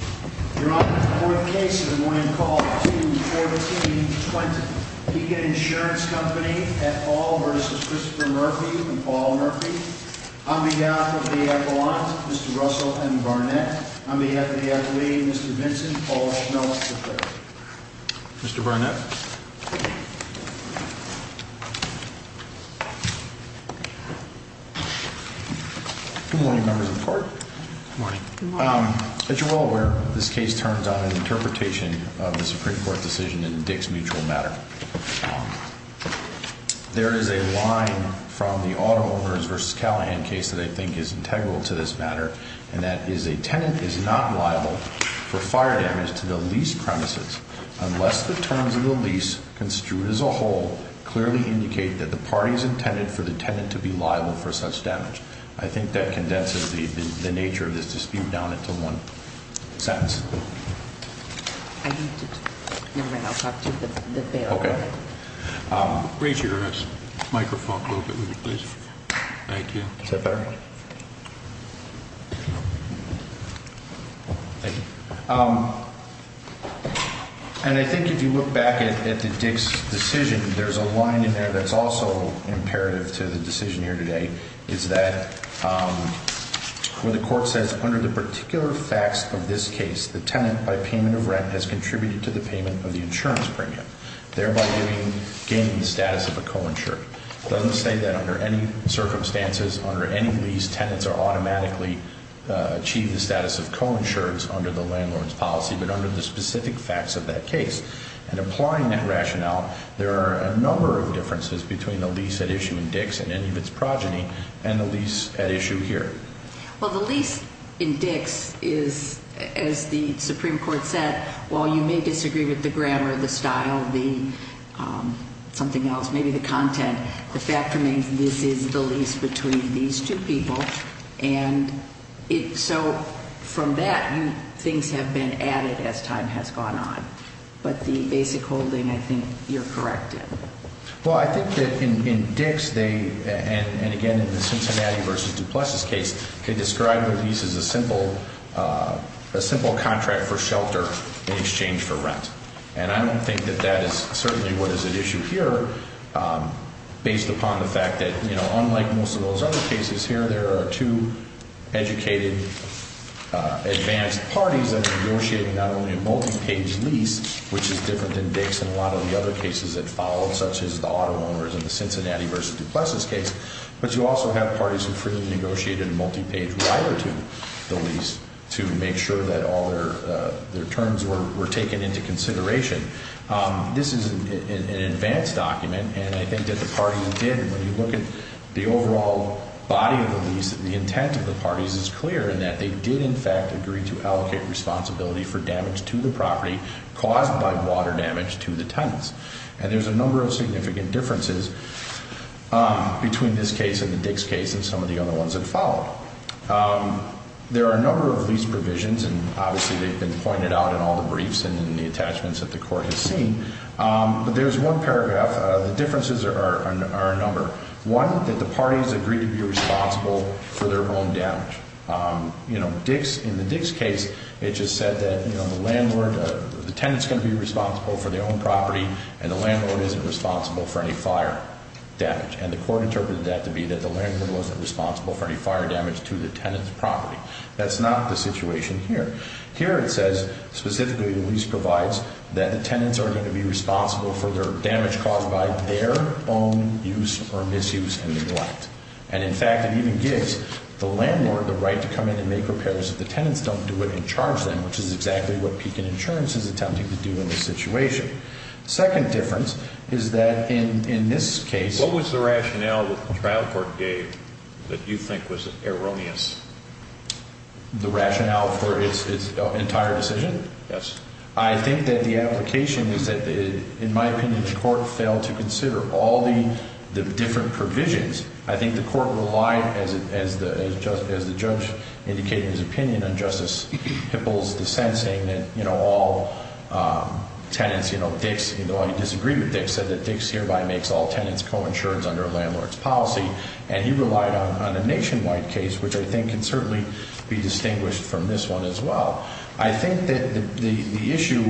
You're on to the fourth case of the morning call, 2-14-20. Pekin Insurance Company v. Christopher Murphy v. Paul Murphy On behalf of the appellant, Mr. Russell M. Barnett On behalf of the appellee, Mr. Vincent Paul Schmelz Mr. Barnett Good morning, members of the court Good morning As you're well aware, this case turns on an interpretation of the Supreme Court decision in Dick's mutual matter. There is a line from the Auto Owners v. Callahan case that I think is integral to this matter, and that is, a tenant is not liable for fire damage to the lease premises unless the terms of the lease construed as a whole clearly indicate that the party is intended for the tenant to be liable for such damage. I think that condenses the nature of this dispute down into one sentence. I need to talk to the bailiff. Okay. Raise your microphone a little bit, please. Thank you. Is that better? Thank you. And I think if you look back at the Dick's decision, there's a line in there that's also imperative to the decision here today, is that where the court says, Under the particular facts of this case, the tenant, by payment of rent, has contributed to the payment of the insurance premium, thereby gaining the status of a co-insured. It doesn't say that under any circumstances, under any lease, tenants automatically achieve the status of co-insureds under the landlord's policy, but under the specific facts of that case. And applying that rationale, there are a number of differences between the lease at issue in Dick's and any of its progeny and the lease at issue here. Well, the lease in Dick's is, as the Supreme Court said, while you may disagree with the grammar, the style, the something else, maybe the content, the fact remains this is the lease between these two people. And so from that, things have been added as time has gone on. But the basic holding, I think you're correct in. Well, I think that in Dick's, they, and again, in the Cincinnati v. DuPlessis case, could describe their lease as a simple contract for shelter in exchange for rent. And I don't think that that is certainly what is at issue here, based upon the fact that, you know, unlike most of those other cases here, there are two educated, advanced parties that are negotiating not only a multi-page lease, which is different than Dick's and a lot of the other cases that followed, such as the auto owners in the Cincinnati v. DuPlessis case, but you also have parties who freely negotiated a multi-page wire to the lease to make sure that all their terms were taken into consideration. This is an advanced document, and I think that the parties did. When you look at the overall body of the lease, the intent of the parties is clear in that they did, in fact, agree to allocate responsibility for damage to the property caused by water damage to the tenants. And there's a number of significant differences between this case and the Dick's case and some of the other ones that followed. There are a number of lease provisions, and obviously they've been pointed out in all the briefs and in the attachments that the court has seen. But there's one paragraph. The differences are a number. One, that the parties agree to be responsible for their own damage. In the Dick's case, it just said that the tenant's going to be responsible for their own property and the landlord isn't responsible for any fire damage, and the court interpreted that to be that the landlord wasn't responsible for any fire damage to the tenant's property. That's not the situation here. Here it says, specifically, the lease provides that the tenants are going to be responsible for their damage caused by their own use or misuse and neglect. And, in fact, it even gives the landlord the right to come in and make repairs if the tenants don't do it and charge them, which is exactly what Pekin Insurance is attempting to do in this situation. The second difference is that in this case... What was the rationale that the trial court gave that you think was erroneous? The rationale for its entire decision? Yes. I think that the application is that, in my opinion, the court failed to consider all the different provisions. I think the court relied, as the judge indicated in his opinion on Justice Hippel's dissent, saying that all tenants, you know, Dick's, although he disagreed with Dick's, said that Dick's hereby makes all tenants co-insurance under a landlord's policy. And he relied on a nationwide case, which I think can certainly be distinguished from this one as well. I think that the issue,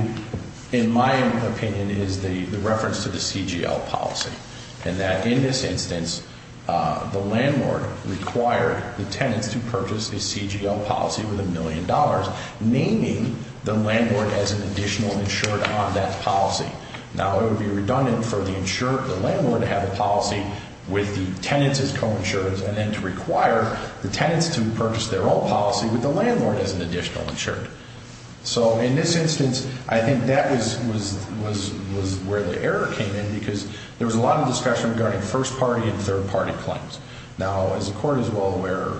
in my opinion, is the reference to the CGL policy and that, in this instance, the landlord required the tenants to purchase a CGL policy with a million dollars, naming the landlord as an additional insured on that policy. with the tenants as co-insurance, and then to require the tenants to purchase their own policy with the landlord as an additional insured. So, in this instance, I think that was where the error came in because there was a lot of discussion regarding first-party and third-party claims. Now, as the court is well aware,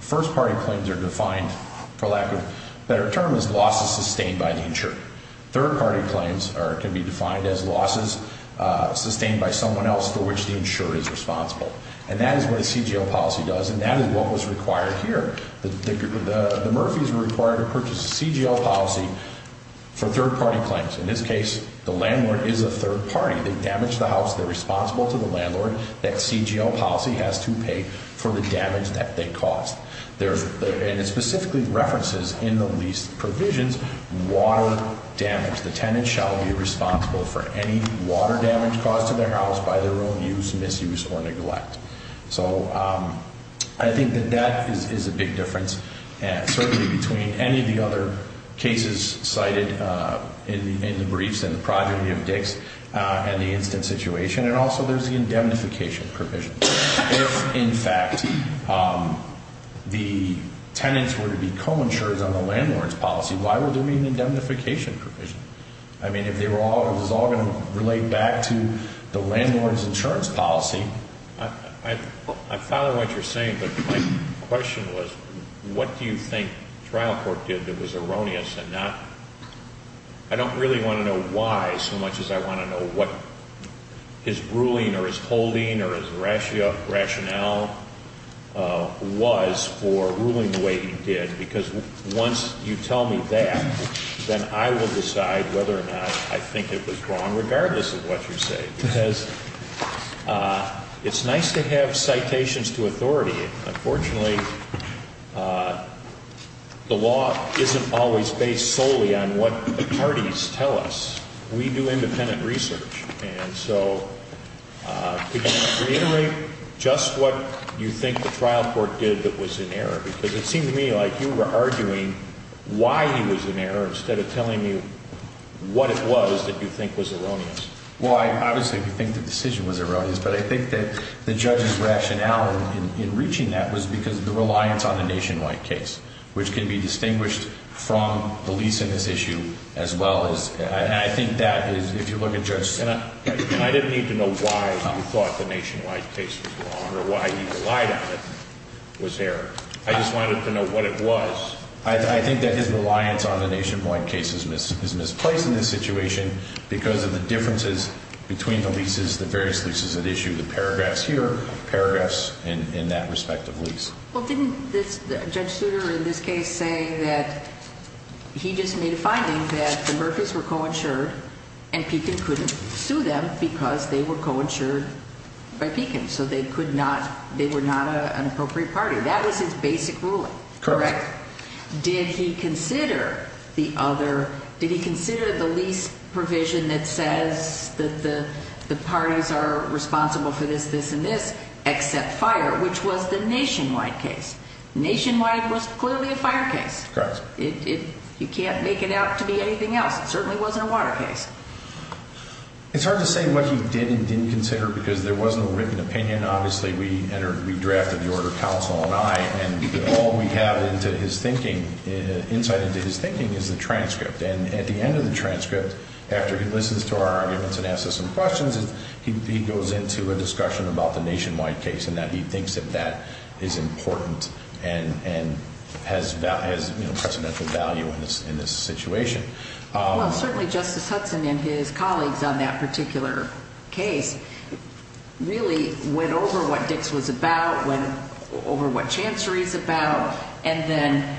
first-party claims are defined, for lack of a better term, as losses sustained by the insured. Third-party claims can be defined as losses sustained by someone else for which the insured is responsible. And that is what a CGL policy does, and that is what was required here. The Murphys were required to purchase a CGL policy for third-party claims. In this case, the landlord is a third party. They damaged the house. They're responsible to the landlord. That CGL policy has to pay for the damage that they caused. And it specifically references, in the lease provisions, water damage. The tenant shall be responsible for any water damage caused to their house by their own use, misuse, or neglect. So, I think that that is a big difference, certainly between any of the other cases cited in the briefs and the progeny of Dix and the instant situation, and also there's the indemnification provision. If, in fact, the tenants were to be co-insured on the landlord's policy, why would there be an indemnification provision? I mean, if they were all going to relate back to the landlord's insurance policy. I follow what you're saying, but my question was, what do you think trial court did that was erroneous and not? I don't really want to know why so much as I want to know what his ruling or his holding or his rationale was for ruling the way he did, because once you tell me that, then I will decide whether or not I think it was wrong, regardless of what you say, because it's nice to have citations to authority. Unfortunately, the law isn't always based solely on what the parties tell us. We do independent research. And so, could you reiterate just what you think the trial court did that was in error? Because it seemed to me like you were arguing why he was in error instead of telling me what it was that you think was erroneous. Well, I obviously do think the decision was erroneous, but I think that the judge's rationale in reaching that was because of the reliance on the nationwide case, which can be distinguished from the lease in this issue as well as – and I think that is, if you look at Judge – And I didn't need to know why you thought the nationwide case was wrong or why he relied on it was error. I just wanted to know what it was. I think that his reliance on the nationwide case is misplaced in this situation because of the differences between the leases, the various leases at issue, the paragraphs here, paragraphs in that respective lease. Well, didn't Judge Souter in this case say that he just made a finding that the Murphys were coinsured and Pekin couldn't sue them because they were coinsured by Pekin, so they were not an appropriate party? That was his basic ruling, correct? Correct. Did he consider the lease provision that says that the parties are responsible for this, this, and this, except fire, which was the nationwide case? Nationwide was clearly a fire case. Correct. You can't make it out to be anything else. It certainly wasn't a water case. It's hard to say what he did and didn't consider because there wasn't a written opinion. Obviously, we drafted the order, counsel and I, and all we have insight into his thinking is the transcript. And at the end of the transcript, after he listens to our arguments and asks us some questions, he goes into a discussion about the nationwide case and that he thinks that that is important and has precedential value in this situation. Well, certainly Justice Hudson and his colleagues on that particular case really went over what Dix was about, went over what Chancery is about, and then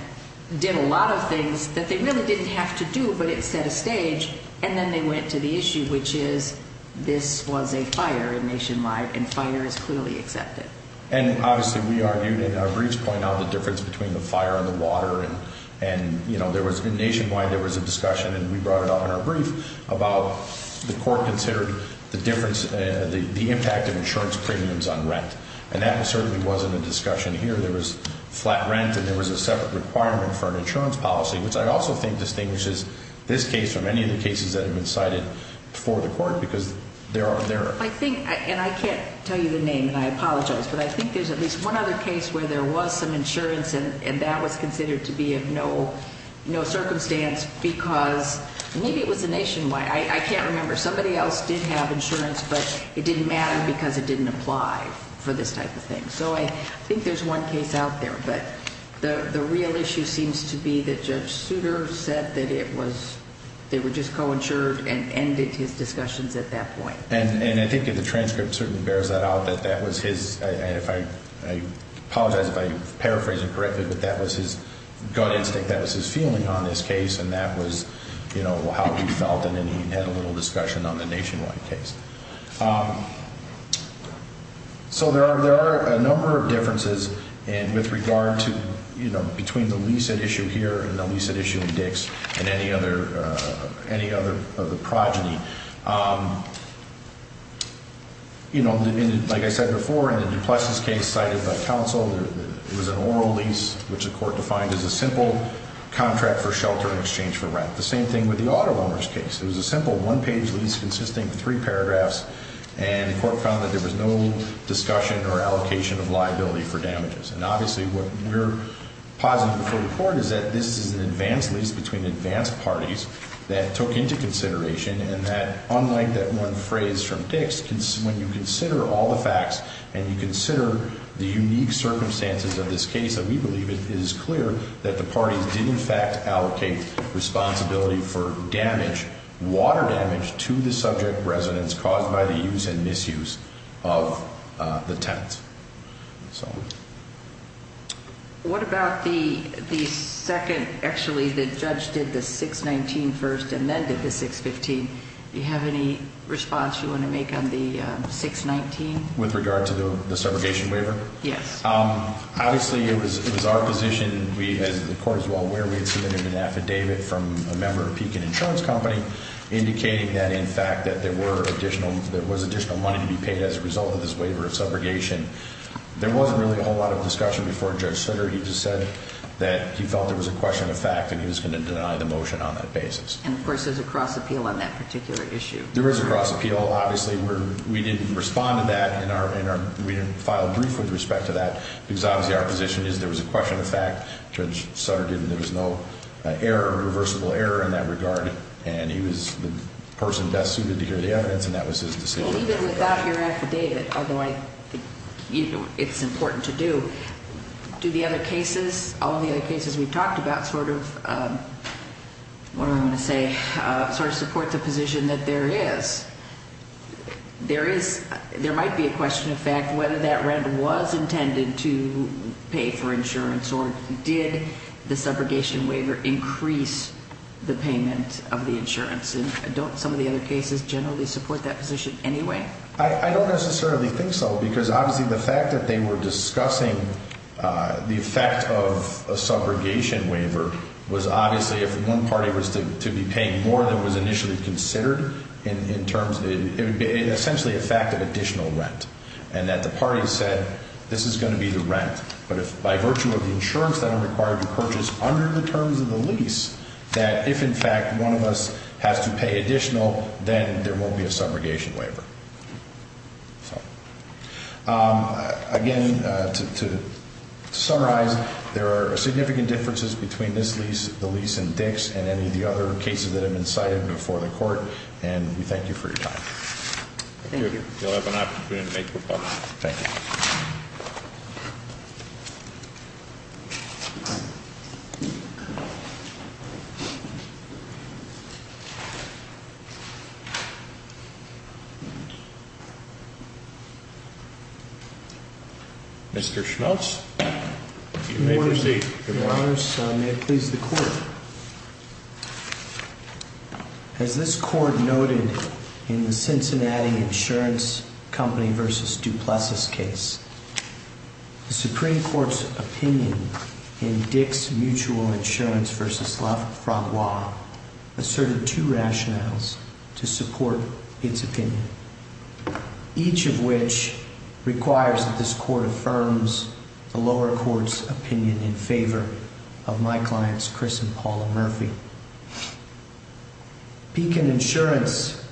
did a lot of things that they really didn't have to do, but it set a stage, and then they went to the issue, which is this was a fire in nationwide, and fire is clearly accepted. And obviously, we argued in our briefs, pointed out the difference between the fire and the water, and nationwide there was a discussion, and we brought it up in our brief, about the court considered the impact of insurance premiums on rent, and that certainly wasn't a discussion here. There was flat rent, and there was a separate requirement for an insurance policy, which I also think distinguishes this case from any of the cases that have been cited before the court because they are there. And I can't tell you the name, and I apologize, but I think there's at least one other case where there was some insurance, and that was considered to be of no circumstance because maybe it was a nationwide. I can't remember. Somebody else did have insurance, but it didn't matter because it didn't apply for this type of thing. So I think there's one case out there, but the real issue seems to be that Judge Souter said that they were just coinsured and ended his discussions at that point. And I think the transcript certainly bears that out, that that was his, and I apologize if I paraphrase it correctly, but that was his gut instinct. That was his feeling on this case, and that was how he felt, and then he had a little discussion on the nationwide case. So there are a number of differences with regard to, you know, between the lease at issue here and the lease at issue in Dix and any other of the progeny. You know, like I said before, in the DuPlessis case cited by counsel, it was an oral lease, which the court defined as a simple contract for shelter in exchange for rent. The same thing with the auto loaner's case. It was a simple one-page lease consisting of three paragraphs, and the court found that there was no discussion or allocation of liability for damages. And obviously what we're positive before the court is that this is an advanced lease between advanced parties that took into consideration, and that unlike that one phrase from Dix, when you consider all the facts and you consider the unique circumstances of this case, that we believe it is clear that the parties did in fact allocate responsibility for damage, water damage to the subject residence caused by the use and misuse of the tenants. What about the second, actually the judge did the 619 first and then did the 615. Do you have any response you want to make on the 619? With regard to the subrogation waiver? Yes. Obviously it was our position, as the court is well aware, we had submitted an affidavit from a member of Pekin Insurance Company indicating that in fact that there was additional money to be paid as a result of this waiver of subrogation. There wasn't really a whole lot of discussion before Judge Sutter. He just said that he felt there was a question of fact, and he was going to deny the motion on that basis. And of course there's a cross appeal on that particular issue. There is a cross appeal. Obviously we didn't respond to that, and we didn't file a brief with respect to that, because obviously our position is there was a question of fact, Judge Sutter did, and there was no irreversible error in that regard, and he was the person best suited to hear the evidence, and that was his decision. Even without your affidavit, although I think it's important to do, do the other cases, all of the other cases we've talked about sort of, what am I going to say, sort of support the position that there is? There might be a question of fact whether that rent was intended to pay for insurance, or did the subrogation waiver increase the payment of the insurance? And don't some of the other cases generally support that position anyway? I don't necessarily think so, because obviously the fact that they were discussing the effect of a subrogation waiver was obviously if one party was to be paying more than was initially considered, it would be essentially a fact of additional rent, and that the party said this is going to be the rent, but by virtue of the insurance that I'm required to purchase under the terms of the lease, that if in fact one of us has to pay additional, then there won't be a subrogation waiver. Again, to summarize, there are significant differences between this lease, the lease in Dix, and any of the other cases that have been cited before the court, and we thank you for your time. Thank you. You'll have an opportunity to make your comments. Thank you. Mr. Schultz, you may proceed. Your Honor, may it please the Court. As this Court noted in the Cincinnati Insurance Company v. Duplessis case, the Supreme Court's opinion in Dix Mutual Insurance v. Lafayette asserted two rationales to support its opinion, each of which requires that this Court affirms the lower court's opinion in favor of my clients Chris and Paula Murphy. Beacon Insurance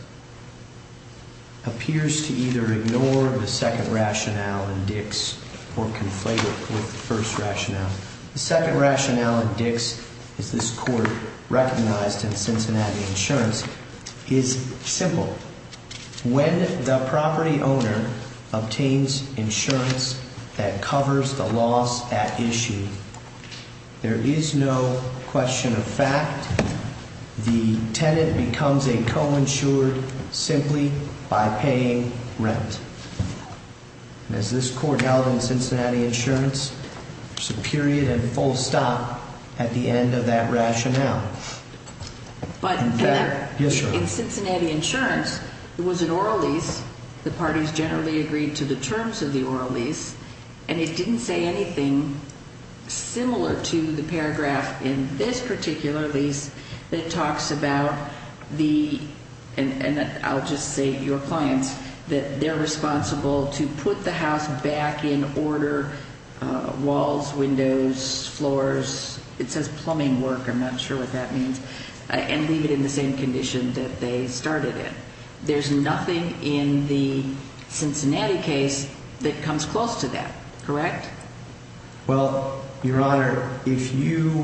appears to either ignore the second rationale in Dix or conflate it with the first rationale. The second rationale in Dix, as this Court recognized in Cincinnati Insurance, is simple. When the property owner obtains insurance that covers the loss at issue, there is no question of fact the tenant becomes a co-insured simply by paying rent. As this Court held in Cincinnati Insurance, there's a period and full stop at the end of that rationale. But in Cincinnati Insurance, it was an oral lease. The parties generally agreed to the terms of the oral lease, and it didn't say anything similar to the paragraph in this particular lease that talks about the, and I'll just say your clients, that they're responsible to put the house back in order, walls, windows, floors, it says plumbing work, I'm not sure what that means, and leave it in the same condition that they started it. There's nothing in the Cincinnati case that comes close to that, correct? Well, Your Honor, if you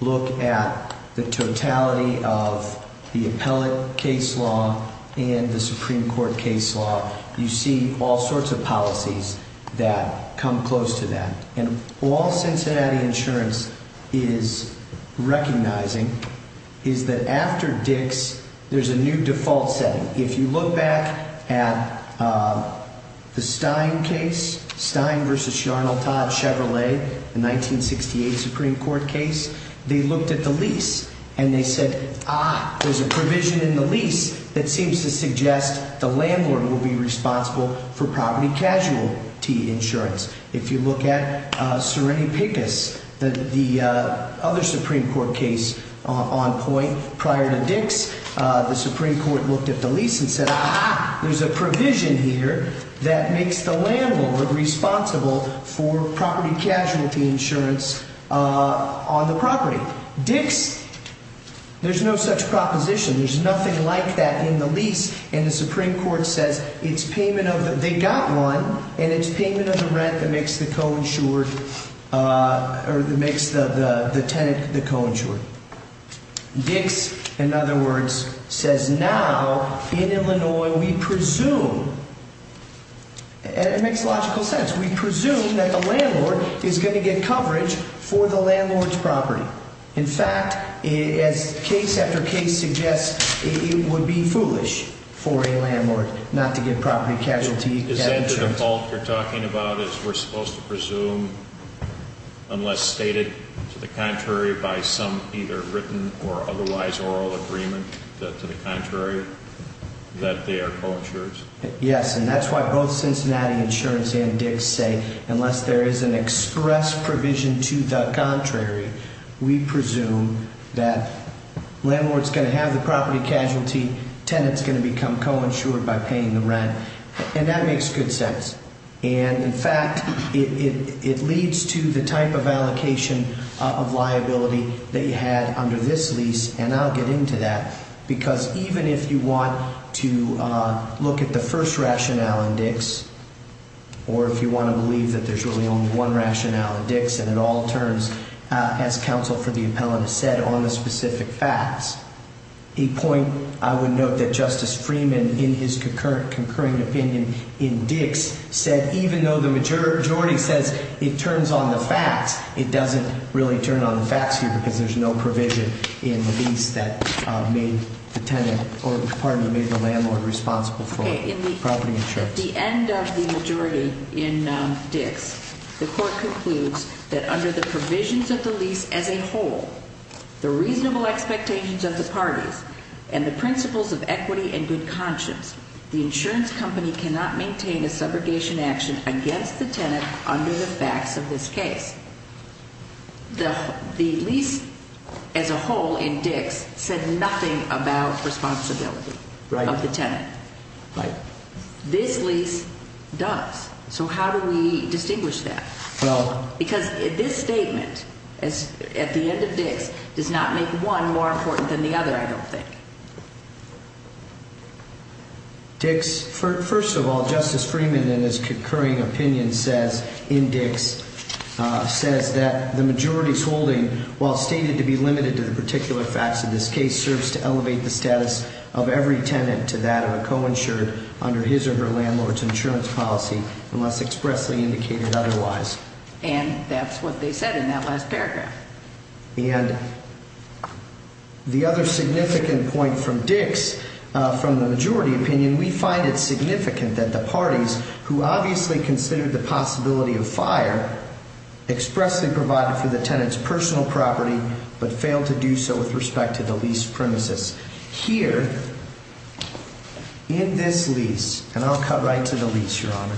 look at the totality of the appellate case law and the Supreme Court case law, you see all sorts of policies that come close to that. And all Cincinnati Insurance is recognizing is that after Dix, there's a new default setting. If you look back at the Stein case, Stein v. Arnold, Todd, Chevrolet, the 1968 Supreme Court case, they looked at the lease and they said, ah, there's a provision in the lease that seems to suggest the landlord will be responsible for property casualty insurance. If you look at Serrini-Picus, the other Supreme Court case on point prior to Dix, the Supreme Court looked at the lease and said, ah, there's a provision here that makes the landlord responsible for property casualty insurance on the property. Dix, there's no such proposition. There's nothing like that in the lease. And the Supreme Court says it's payment of the, they got one, and it's payment of the rent that makes the co-insured, or that makes the tenant the co-insured. Dix, in other words, says now in Illinois we presume, and it makes logical sense, we presume that the landlord is going to get coverage for the landlord's property. In fact, as case after case suggests, it would be foolish for a landlord not to get property casualty insurance. So you're saying the default you're talking about is we're supposed to presume, unless stated to the contrary by some either written or otherwise oral agreement, that to the contrary, that they are co-insured? Yes, and that's why both Cincinnati Insurance and Dix say unless there is an express provision to the contrary, we presume that landlord's going to have the property casualty, tenant's going to become co-insured by paying the rent. And that makes good sense. And, in fact, it leads to the type of allocation of liability that you had under this lease, and I'll get into that, because even if you want to look at the first rationale in Dix, or if you want to believe that there's really only one rationale in Dix, and it all turns, as counsel for the appellant has said, on the specific facts, a point I would note that Justice Freeman, in his concurring opinion in Dix, said even though the majority says it turns on the facts, it doesn't really turn on the facts here because there's no provision in the lease that made the tenant, or pardon me, made the landlord responsible for property insurance. At the end of the majority in Dix, the court concludes that under the provisions of the lease as a whole, the reasonable expectations of the parties, and the principles of equity and good conscience, the insurance company cannot maintain a subrogation action against the tenant under the facts of this case. The lease as a whole in Dix said nothing about responsibility of the tenant. This lease does. So how do we distinguish that? Because this statement at the end of Dix does not make one more important than the other, I don't think. Dix, first of all, Justice Freeman in his concurring opinion says in Dix, says that the majority's holding, while stated to be limited to the particular facts of this case, serves to elevate the status of every tenant to that of a co-insured under his or her landlord's insurance policy unless expressly indicated otherwise. And that's what they said in that last paragraph. And the other significant point from Dix, from the majority opinion, we find it significant that the parties who obviously considered the possibility of fire expressly provided for the tenant's personal property but failed to do so with respect to the lease premises. Here, in this lease, and I'll cut right to the lease, Your Honor,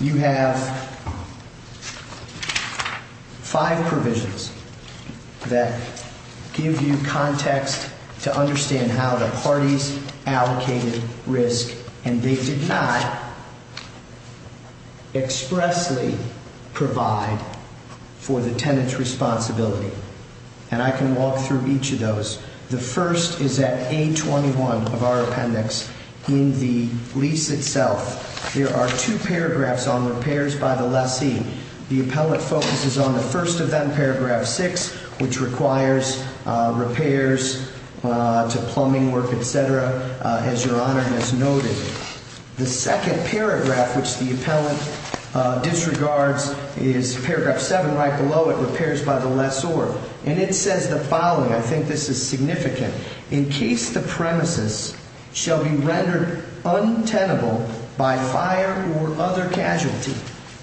you have five provisions that give you context to understand how the parties allocated risk and they did not expressly provide for the tenant's responsibility. And I can walk through each of those. The first is at A21 of our appendix in the lease itself. There are two paragraphs on repairs by the lessee. The appellate focuses on the first of them, paragraph six, which requires repairs to plumbing work, et cetera, as Your Honor has noted. The second paragraph, which the appellate disregards, is paragraph seven right below it, repairs by the lessor. And it says the following, I think this is significant, in case the premises shall be rendered untenable by fire or other casualty,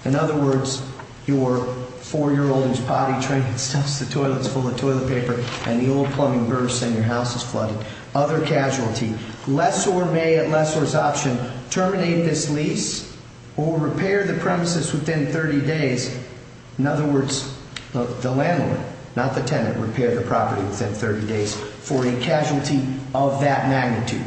in other words, your four-year-old who's potty trained and stuffs the toilets full of toilet paper and the old plumbing bursts and your house is flooded, other casualty. Lessor may, at lessor's option, terminate this lease or repair the premises within 30 days. In other words, the landlord, not the tenant, repair the property within 30 days for a casualty of that magnitude.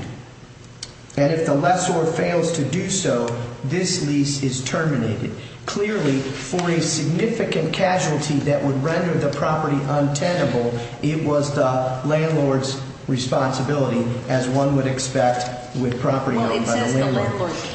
And if the lessor fails to do so, this lease is terminated. Clearly, for a significant casualty that would render the property untenable, it was the landlord's responsibility, as one would expect with property owned by the landlord. Well, it says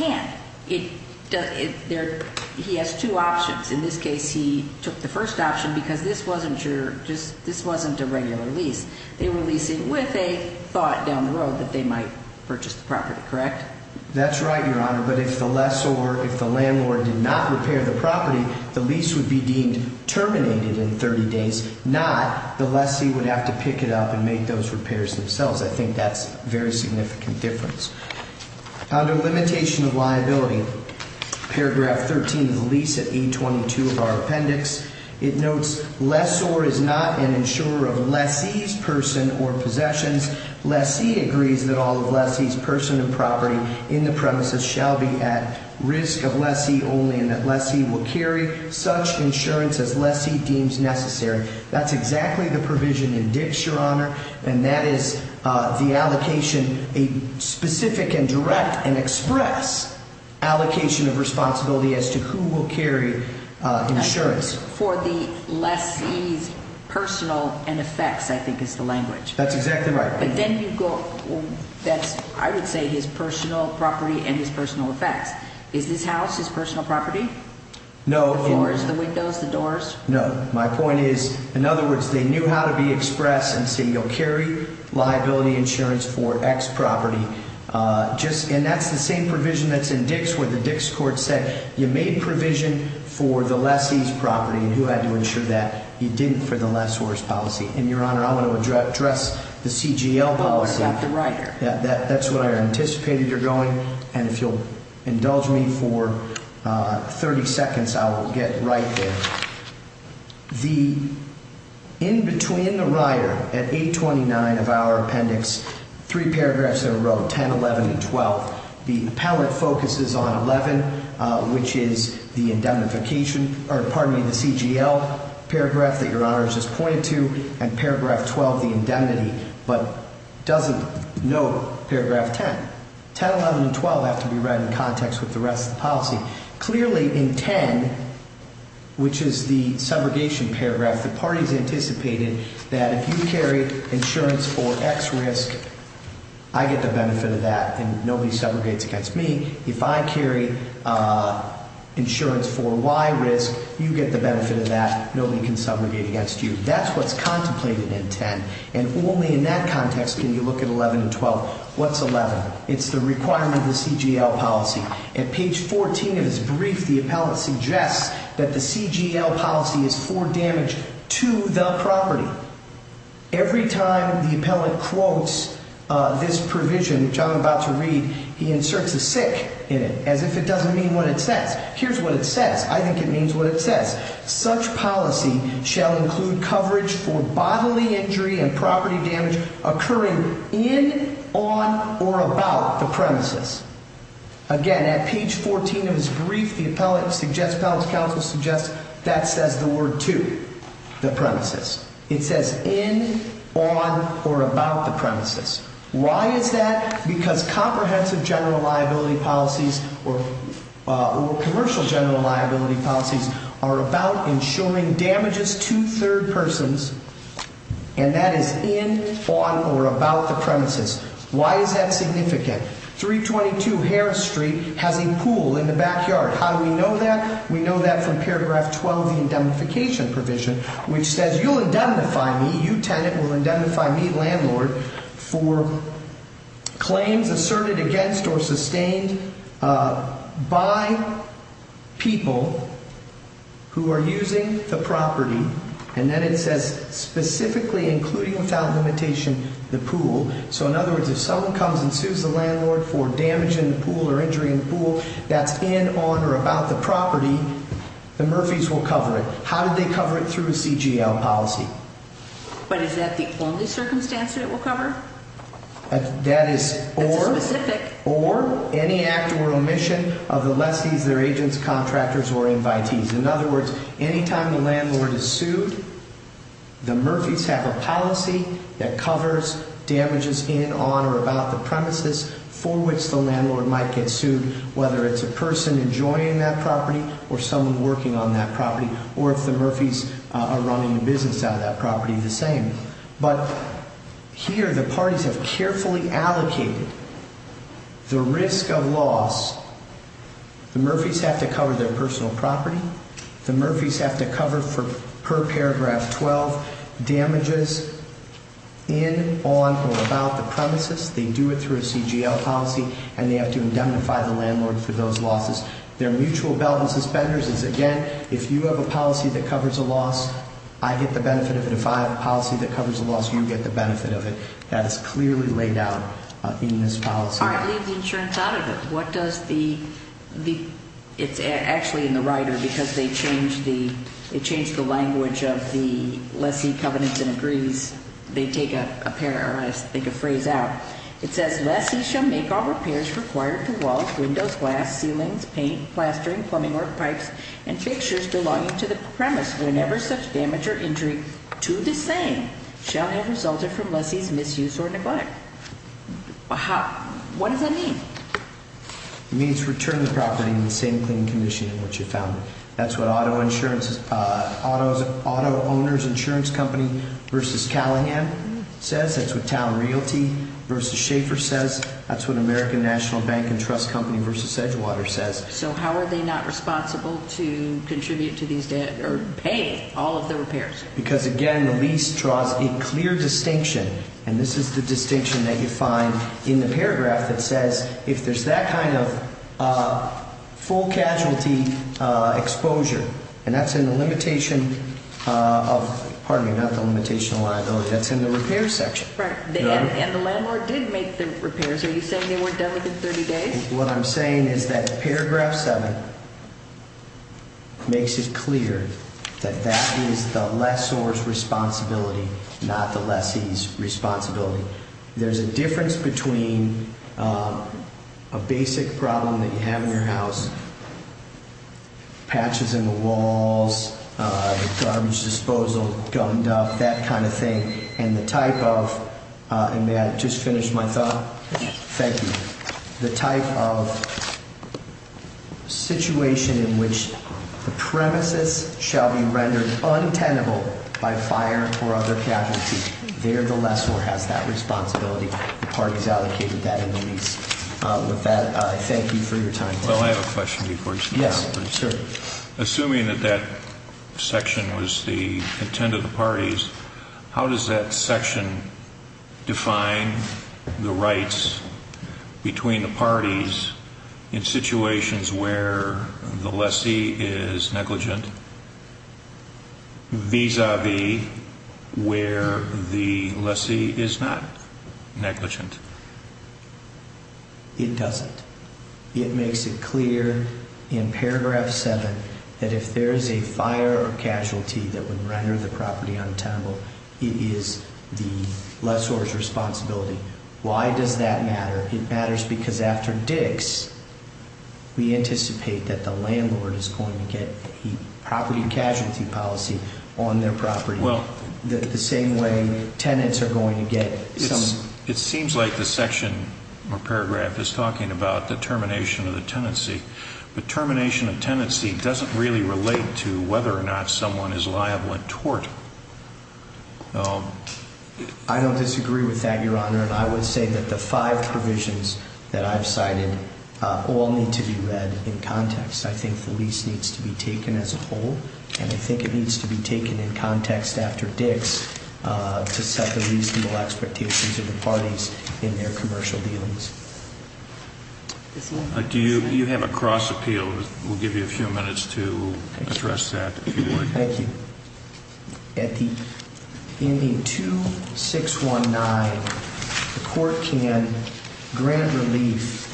the landlord can't. He has two options. In this case, he took the first option because this wasn't a regular lease. They were leasing with a thought down the road that they might purchase the property, correct? That's right, Your Honor, but if the lessor, if the landlord did not repair the property, the lease would be deemed terminated in 30 days, not the lessee would have to pick it up and make those repairs themselves. I think that's a very significant difference. Under limitation of liability, paragraph 13 of the lease at 822 of our appendix, it notes lessor is not an insurer of lessee's person or possessions. Lessee agrees that all of lessee's person and property in the premises shall be at risk of lessee only and that lessee will carry such insurance as lessee deems necessary. That's exactly the provision in dicts, Your Honor, and that is the allocation, a specific and direct and express allocation of responsibility as to who will carry insurance. For the lessee's personal and effects, I think is the language. That's exactly right. I would say his personal property and his personal effects. Is this house his personal property? The floors, the windows, the doors? No. My point is, in other words, they knew how to be express and say you'll carry liability insurance for X property. And that's the same provision that's in dicts where the dicts court said you made provision for the lessee's property He didn't for the lessor's policy. And, Your Honor, I want to address the CGL policy. I've got the rider. That's what I anticipated you're going. And if you'll indulge me for 30 seconds, I will get right there. In between the rider at 829 of our appendix, three paragraphs in a row, 10, 11, and 12, the appellate focuses on 11, which is the indemnification, or pardon me, the CGL paragraph that Your Honor has just pointed to and paragraph 12, the indemnity, but doesn't note paragraph 10. 10, 11, and 12 have to be read in context with the rest of the policy. Clearly, in 10, which is the subrogation paragraph, the parties anticipated that if you carry insurance for X risk, I get the benefit of that and nobody subrogates against me. If I carry insurance for Y risk, you get the benefit of that. Nobody can subrogate against you. That's what's contemplated in 10, and only in that context can you look at 11 and 12. What's 11? It's the requirement of the CGL policy. At page 14 of his brief, the appellate suggests that the CGL policy is for damage to the property. Every time the appellate quotes this provision, which I'm about to read, he inserts a sick in it, as if it doesn't mean what it says. Here's what it says. I think it means what it says. Such policy shall include coverage for bodily injury and property damage occurring in, on, or about the premises. Again, at page 14 of his brief, the appellate suggests, appellate's counsel suggests, that says the word to the premises. It says in, on, or about the premises. Why is that? Because comprehensive general liability policies or commercial general liability policies are about insuring damages to third persons, and that is in, on, or about the premises. Why is that significant? 322 Harris Street has a pool in the backyard. How do we know that? We know that from paragraph 12 of the indemnification provision, which says you'll indemnify me, you tenant will indemnify me, landlord, for claims asserted against or sustained by people who are using the property. And then it says specifically including without limitation the pool. So in other words, if someone comes and sues the landlord for damage in the pool or injury in the pool that's in, on, or about the property, the Murphys will cover it. How do they cover it? Through a CGL policy. But is that the only circumstance that it will cover? That is or. That's a specific. Or any act or omission of the lessee's, their agents, contractors, or invitees. In other words, any time the landlord is sued, the Murphys have a policy that covers damages in, on, or about the premises for which the landlord might get sued, whether it's a person enjoying that property or someone working on that property, or if the Murphys are running a business out of that property, the same. But here the parties have carefully allocated the risk of loss. The Murphys have to cover their personal property. The Murphys have to cover for per paragraph 12 damages in, on, or about the premises. They do it through a CGL policy, and they have to indemnify the landlord for those losses. Their mutual belt and suspenders is, again, if you have a policy that covers a loss, I get the benefit of it. If I have a policy that covers a loss, you get the benefit of it. That is clearly laid out in this policy. All right. Leave the insurance out of it. What does the, the, it's actually in the rider because they changed the, they changed the language of the lessee covenants and agrees. They take a pair, or I think a phrase out. It says lessee shall make all repairs required to walls, windows, glass, ceilings, paint, plastering, plumbing, or pipes, and fixtures belonging to the premise. Whenever such damage or injury to the same shall have resulted from lessee's misuse or neglect. How, what does that mean? It means return the property in the same clean condition in which you found it. That's what auto insurance auto auto owners insurance company versus Callahan says. That's what town realty versus Schaefer says. That's what American National Bank and Trust Company versus Edgewater says. So how are they not responsible to contribute to these debt or pay all of the repairs? Because, again, the lease draws a clear distinction. And this is the distinction that you find in the paragraph that says if there's that kind of full casualty exposure. And that's in the limitation of pardon me, not the limitation of liability. That's in the repair section. Right. And the landlord did make the repairs. Are you saying they weren't done within 30 days? What I'm saying is that paragraph seven makes it clear that that is the lessor's responsibility, not the lessee's responsibility. There's a difference between a basic problem that you have in your house, patches in the walls, garbage disposal, gummed up, that kind of thing. And the type of and may I just finish my thought. Thank you. The type of situation in which the premises shall be rendered untenable by fire or other casualties. There, the lessor has that responsibility. The parties allocated that in the lease. With that, I thank you for your time. Well, I have a question. Yes, sir. Assuming that that section was the intent of the parties, how does that section define the rights between the parties in situations where the lessee is negligent? These are the where the lessee is not negligent. It doesn't. It makes it clear in paragraph seven that if there is a fire or casualty that would render the property untenable, it is the lessor's responsibility. Why does that matter? It matters because after Dix, we anticipate that the landlord is going to get property casualty policy on their property. Well. The same way tenants are going to get some. It seems like the section or paragraph is talking about the termination of the tenancy. But termination of tenancy doesn't really relate to whether or not someone is liable in tort. I don't disagree with that, Your Honor. And I would say that the five provisions that I've cited all need to be read in context. I think the lease needs to be taken as a whole. And I think it needs to be taken in context after Dix to set the reasonable expectations of the parties in their commercial dealings. Do you have a cross appeal? We'll give you a few minutes to address that. Thank you. In the 2619, the court can grant relief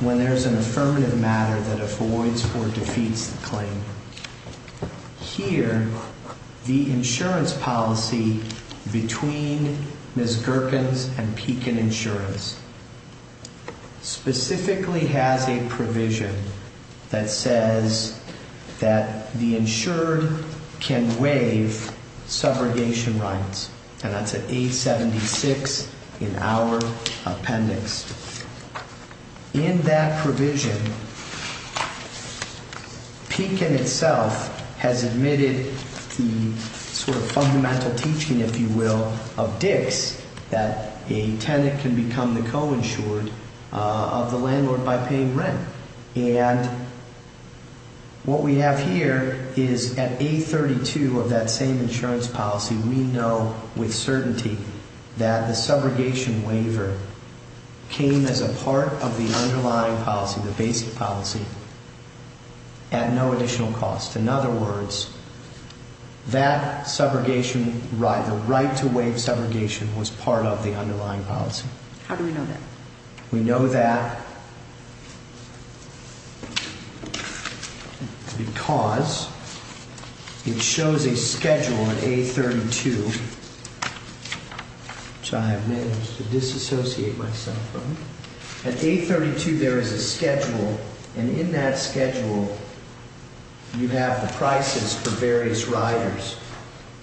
when there's an affirmative matter that avoids or defeats the claim. Here, the insurance policy between Ms. Gherkins and Pekin Insurance specifically has a provision that says that the insured can waive subrogation rights. And that's at 876 in our appendix. In that provision, Pekin itself has admitted the sort of fundamental teaching, if you will, of Dix, that a tenant can become the co-insured of the landlord by paying rent. And what we have here is at 832 of that same insurance policy, we know with certainty that the subrogation waiver came as a part of the underlying policy, the basic policy, at no additional cost. In other words, that subrogation right, the right to waive subrogation, was part of the underlying policy. How do we know that? We know that because it shows a schedule at 832, which I have managed to disassociate myself from. At 832, there is a schedule. And in that schedule, you have the prices for various riders.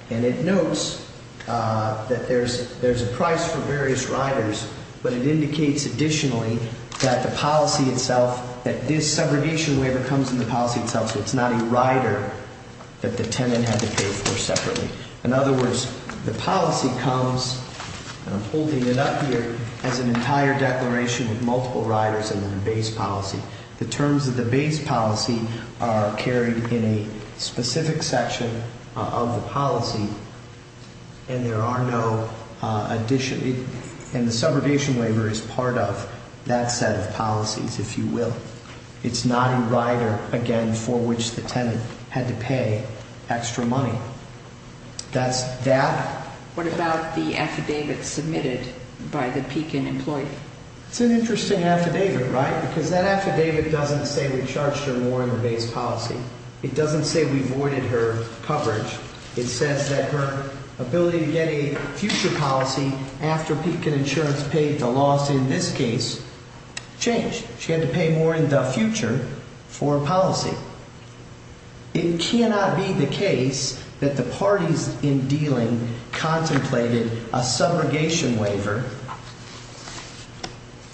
And it notes that there's a price for various riders, but it indicates additionally that the policy itself, that this subrogation waiver comes in the policy itself. So it's not a rider that the tenant had to pay for separately. In other words, the policy comes, and I'm holding it up here, as an entire declaration with multiple riders in the base policy. The terms of the base policy are carried in a specific section of the policy, and there are no addition. And the subrogation waiver is part of that set of policies, if you will. It's not a rider, again, for which the tenant had to pay extra money. That's that. What about the affidavit submitted by the Pekin employee? It's an interesting affidavit, right? Because that affidavit doesn't say we charged her more in the base policy. It doesn't say we voided her coverage. It says that her ability to get a future policy after Pekin Insurance paid the loss in this case changed. She had to pay more in the future for a policy. It cannot be the case that the parties in dealing contemplated a subrogation waiver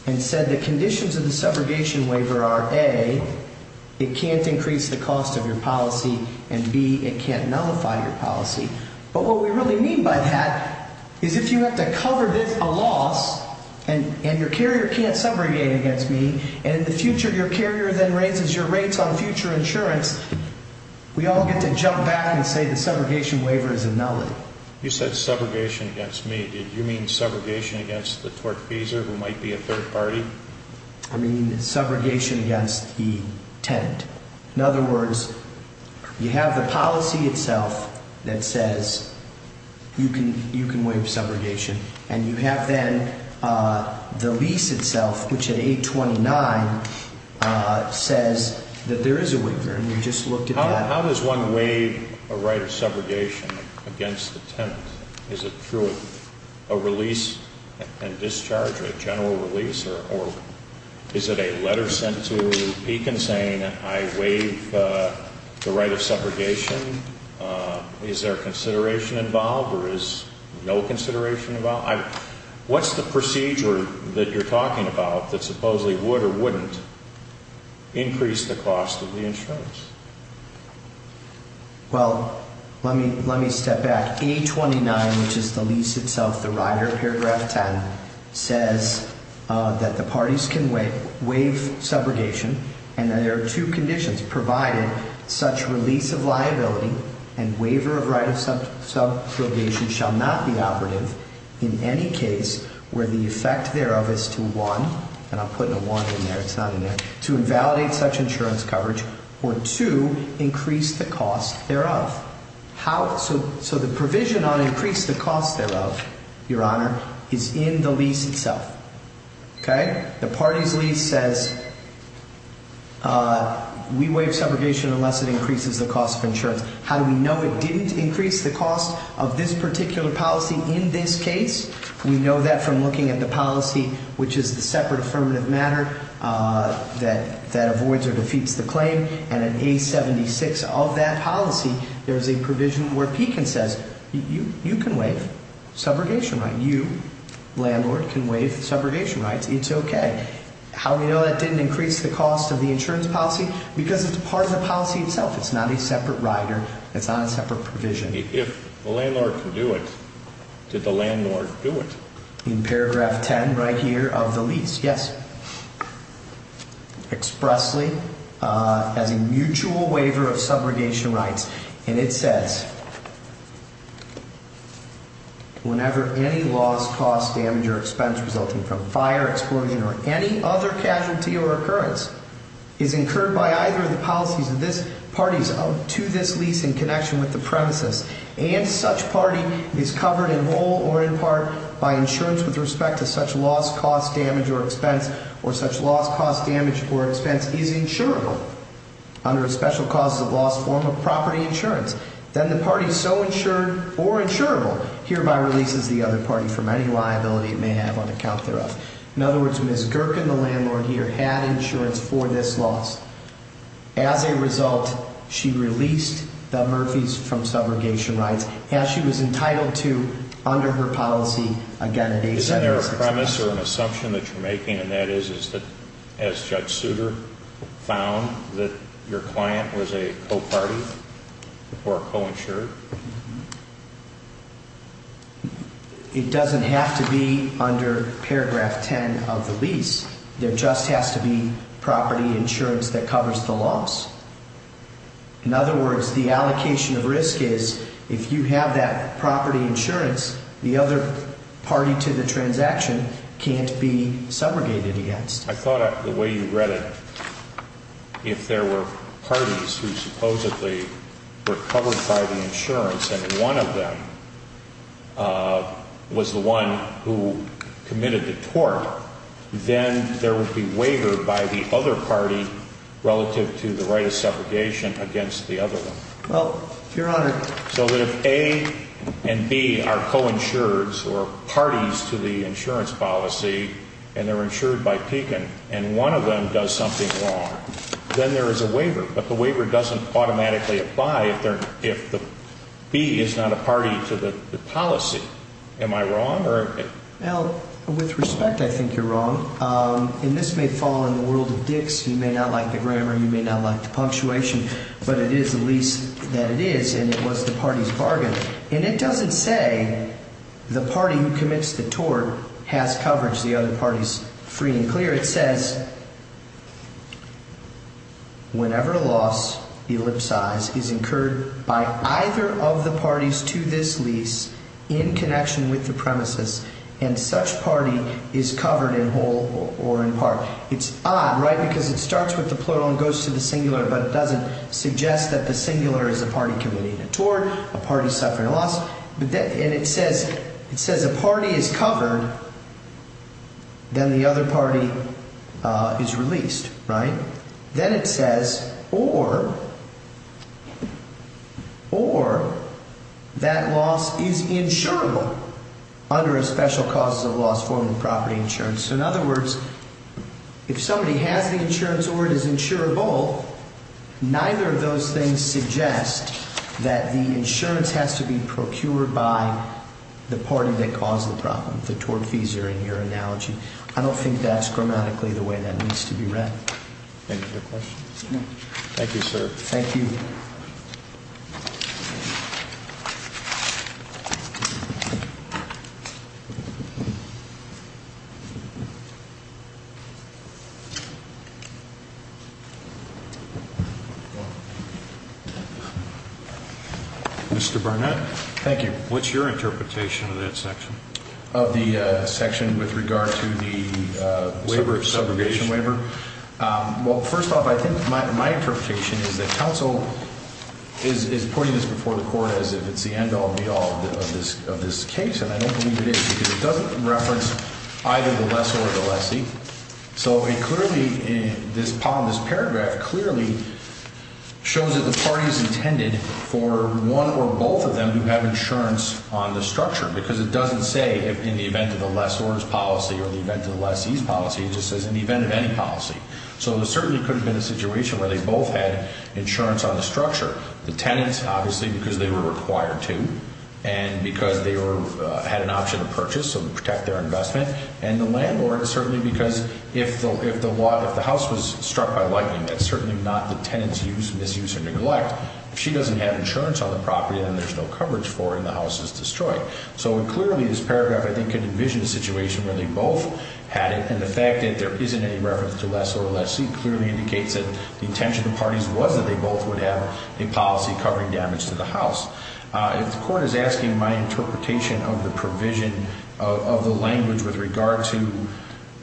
and said the conditions of the subrogation waiver are, A, it can't increase the cost of your policy, and B, it can't nullify your policy. But what we really mean by that is if you have to cover a loss and your carrier can't subrogate against me, and in the future your carrier then raises your rates on future insurance, we all get to jump back and say the subrogation waiver is a nullity. You said subrogation against me. Did you mean subrogation against the tortfeasor who might be a third party? I mean subrogation against the tenant. In other words, you have the policy itself that says you can waive subrogation, and you have then the lease itself, which at 829 says that there is a waiver, and we just looked at that. How does one waive a right of subrogation against the tenant? Is it through a release and discharge, a general release, or is it a letter sent to Pekin saying I waive the right of subrogation? Is there consideration involved or is no consideration involved? What's the procedure that you're talking about that supposedly would or wouldn't increase the cost of the insurance? Well, let me step back. 829, which is the lease itself, the rider, paragraph 10, says that the parties can waive subrogation and that there are two conditions provided such release of liability and waiver of right of subrogation shall not be operative in any case where the effect thereof is to one, and I'm putting a one in there, it's not in there, to invalidate such insurance coverage or to increase the cost thereof. So the provision on increase the cost thereof, Your Honor, is in the lease itself. Okay? The parties lease says we waive subrogation unless it increases the cost of insurance. How do we know it didn't increase the cost of this particular policy in this case? We know that from looking at the policy, which is the separate affirmative matter that avoids or defeats the claim, and in A76 of that policy, there's a provision where Pekin says you can waive subrogation rights, you, landlord, can waive subrogation rights, it's okay. How do we know that didn't increase the cost of the insurance policy? Because it's part of the policy itself. It's not a separate rider. It's not a separate provision. If the landlord can do it, did the landlord do it? In paragraph 10 right here of the lease, yes. Expressly as a mutual waiver of subrogation rights, and it says whenever any loss, cost, damage, or expense resulting from fire, explosion, or any other casualty or occurrence is incurred by either of the policies of this parties to this lease in connection with the premises and such party is covered in whole or in part by insurance with respect to such loss, cost, damage, or expense, or such loss, cost, damage, or expense is insurable under a special cause of loss form of property insurance, then the party so insured or insurable hereby releases the other party from any liability it may have on account thereof. In other words, Ms. Gerken, the landlord here, had insurance for this loss. As a result, she released the Murphys from subrogation rights as she was entitled to under her policy. Is there a premise or an assumption that you're making, and that is, is that as Judge Souter found that your client was a co-party or co-insured? It doesn't have to be under paragraph 10 of the lease. There just has to be property insurance that covers the loss. In other words, the allocation of risk is, if you have that property insurance, the other party to the transaction can't be subrogated against. I thought the way you read it, if there were parties who supposedly were covered by the insurance, and one of them was the one who committed the tort, then there would be waiver by the other party relative to the right of subrogation against the other one. Well, Your Honor. So that if A and B are co-insureds or parties to the insurance policy, and they're insured by Pekin, and one of them does something wrong, then there is a waiver. But the waiver doesn't automatically apply if B is not a party to the policy. Am I wrong? Well, with respect, I think you're wrong. And this may fall in the world of Dick's. You may not like the grammar. You may not like the punctuation. But it is the lease that it is, and it was the party's bargain. And it doesn't say the party who commits the tort has coverage, the other party's free and clear. Here it says, whenever a loss ellipsized is incurred by either of the parties to this lease in connection with the premises, and such party is covered in whole or in part. It's odd, right, because it starts with the plural and goes to the singular, but it doesn't suggest that the singular is a party committing a tort, a party suffering a loss. And it says a party is covered, then the other party is released, right? Then it says, or that loss is insurable under a special causes of loss form of property insurance. So in other words, if somebody has the insurance or it is insurable, neither of those things suggest that the insurance has to be procured by the party that caused the problem, the tortfeasor in your analogy. I don't think that's grammatically the way that needs to be read. Any other questions? No. Thank you, sir. Thank you. Mr. Barnett. Thank you. What's your interpretation of that section? Of the section with regard to the waiver, subrogation waiver? Well, first off, I think my interpretation is that counsel is putting this before the court as if it's the end all, be all of this case. And I don't believe it is because it doesn't reference either the lessor or the lessee. So it clearly, this paragraph clearly shows that the party is intended for one or both of them to have insurance on the structure because it doesn't say in the event of the lessor's policy or the event of the lessee's policy. It just says in the event of any policy. So there certainly could have been a situation where they both had insurance on the structure. The tenants, obviously, because they were required to and because they had an option of purchase to protect their investment. And the landlord certainly because if the house was struck by lightning, that's certainly not the tenant's misuse or neglect. If she doesn't have insurance on the property, then there's no coverage for her and the house is destroyed. So clearly, this paragraph, I think, could envision a situation where they both had it. And the fact that there isn't any reference to lessor or lessee clearly indicates that the intention of the parties was that they both would have a policy covering damage to the house. If the court is asking my interpretation of the provision of the language with regard to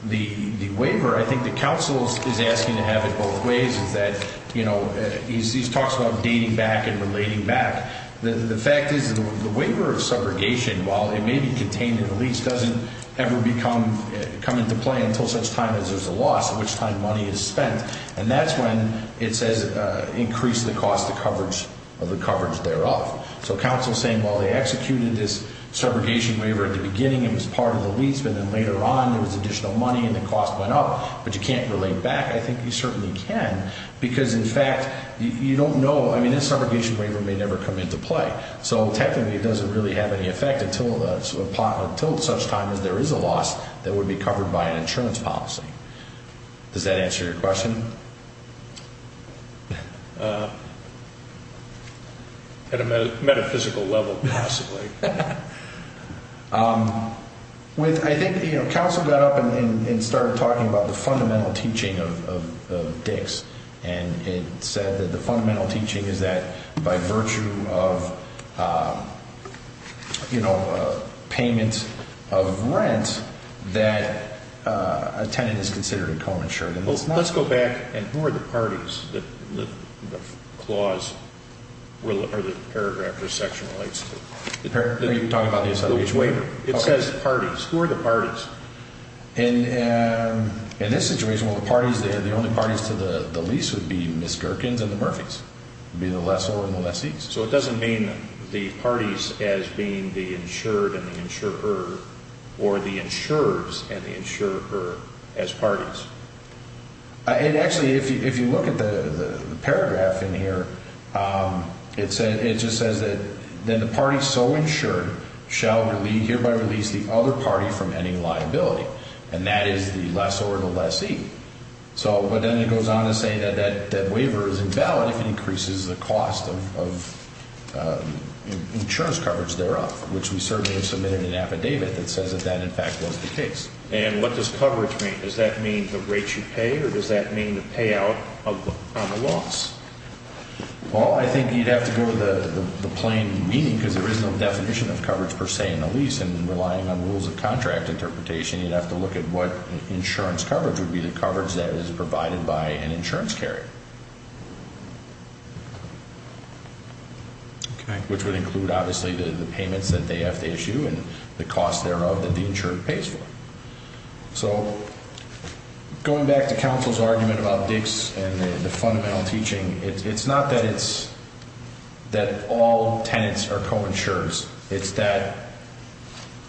the waiver, I think the counsel is asking to have it both ways. Is that, you know, he talks about dating back and relating back. The fact is the waiver of subrogation, while it may be contained in the lease, doesn't ever come into play until such time as there's a loss, at which time money is spent. And that's when it says increase the cost of the coverage thereof. So counsel is saying, well, they executed this subrogation waiver at the beginning. It was part of the lease, but then later on there was additional money and the cost went up. But you can't relate back. I think you certainly can. Because, in fact, you don't know. I mean, this subrogation waiver may never come into play. So technically it doesn't really have any effect until such time as there is a loss that would be covered by an insurance policy. Does that answer your question? At a metaphysical level, possibly. I think, you know, counsel got up and started talking about the fundamental teaching of DICS. And it said that the fundamental teaching is that by virtue of, you know, payment of rent, that a tenant is considered co-insured. Let's go back and who are the parties that the clause or the paragraph or section relates to? Are you talking about the subrogation waiver? It says parties. Who are the parties? In this situation, well, the parties, the only parties to the lease would be Ms. Gherkins and the Murphys. It would be the lessor and the lessees. So it doesn't mean the parties as being the insured and the insurer or the insurers and the insurer as parties. It actually, if you look at the paragraph in here, it just says that then the party so insured shall hereby release the other party from any liability. And that is the lessor and the lessee. So, but then it goes on to say that that waiver is invalid if it increases the cost of insurance coverage thereof, which we certainly have submitted an affidavit that says that that in fact was the case. And what does coverage mean? Does that mean the rate you pay or does that mean the payout on the loss? Well, I think you'd have to go to the plain meaning because there is no definition of coverage per se in the lease. And relying on rules of contract interpretation, you'd have to look at what insurance coverage would be, the coverage that is provided by an insurance carrier. Okay. Which would include, obviously, the payments that they have to issue and the cost thereof that the insurer pays for. So going back to counsel's argument about DICS and the fundamental teaching, it's not that it's that all tenants are co-insurers. It's that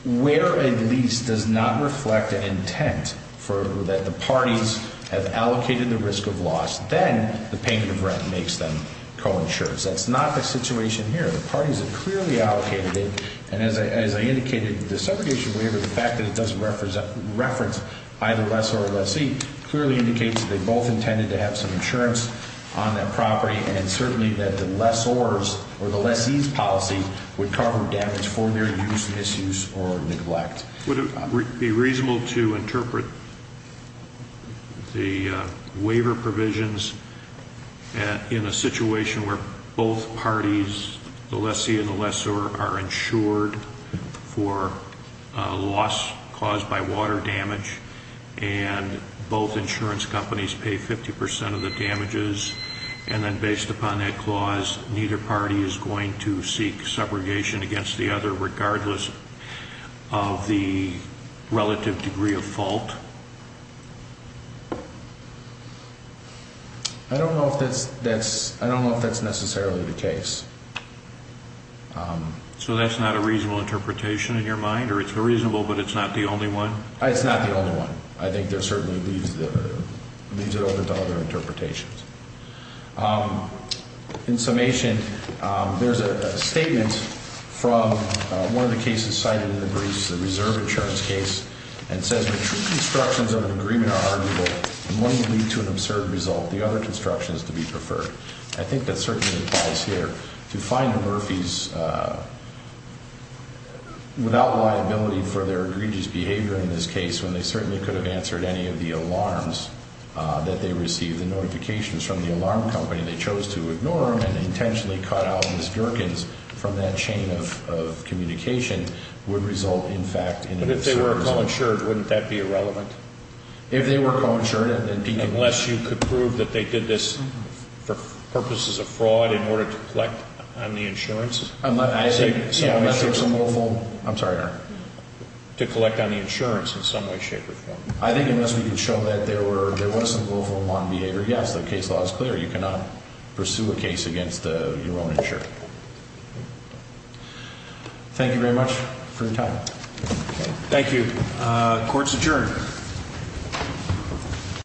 where a lease does not reflect an intent for that the parties have allocated the risk of loss, then the payment of rent makes them co-insurers. That's not the situation here. The parties have clearly allocated it. And as I indicated, the segregation waiver, the fact that it doesn't reference either lessor or lessee clearly indicates that they both intended to have some insurance on that property. And certainly that the lessors or the lessee's policy would cover damage for their use, misuse, or neglect. Would it be reasonable to interpret the waiver provisions in a situation where both parties, the lessee and the lessor, are insured for loss caused by water damage and both insurance companies pay 50% of the damages. And then based upon that clause, neither party is going to seek subrogation against the other regardless of the relative degree of fault? I don't know if that's necessarily the case. So that's not a reasonable interpretation in your mind? Or it's reasonable but it's not the only one? It's not the only one. I think there certainly leads it over to other interpretations. In summation, there's a statement from one of the cases cited in the briefs, the reserve insurance case, and it says when true constructions of an agreement are arguable and one can lead to an absurd result, the other construction is to be preferred. I think that certainly applies here. To find the Murphys without liability for their egregious behavior in this case, when they certainly could have answered any of the alarms that they received, the notifications from the alarm company, they chose to ignore them and intentionally cut out Miss Durkin's from that chain of communication, would result in fact in an absurd result. But if they were co-insured, wouldn't that be irrelevant? If they were co-insured. Unless you could prove that they did this for purposes of fraud in order to collect on the insurance? I'm sorry, Your Honor. To collect on the insurance in some way, shape, or form. I think unless we can show that there was some willful and modern behavior, yes, the case law is clear. You cannot pursue a case against your own insurance. Thank you very much for your time. Thank you. Court is adjourned.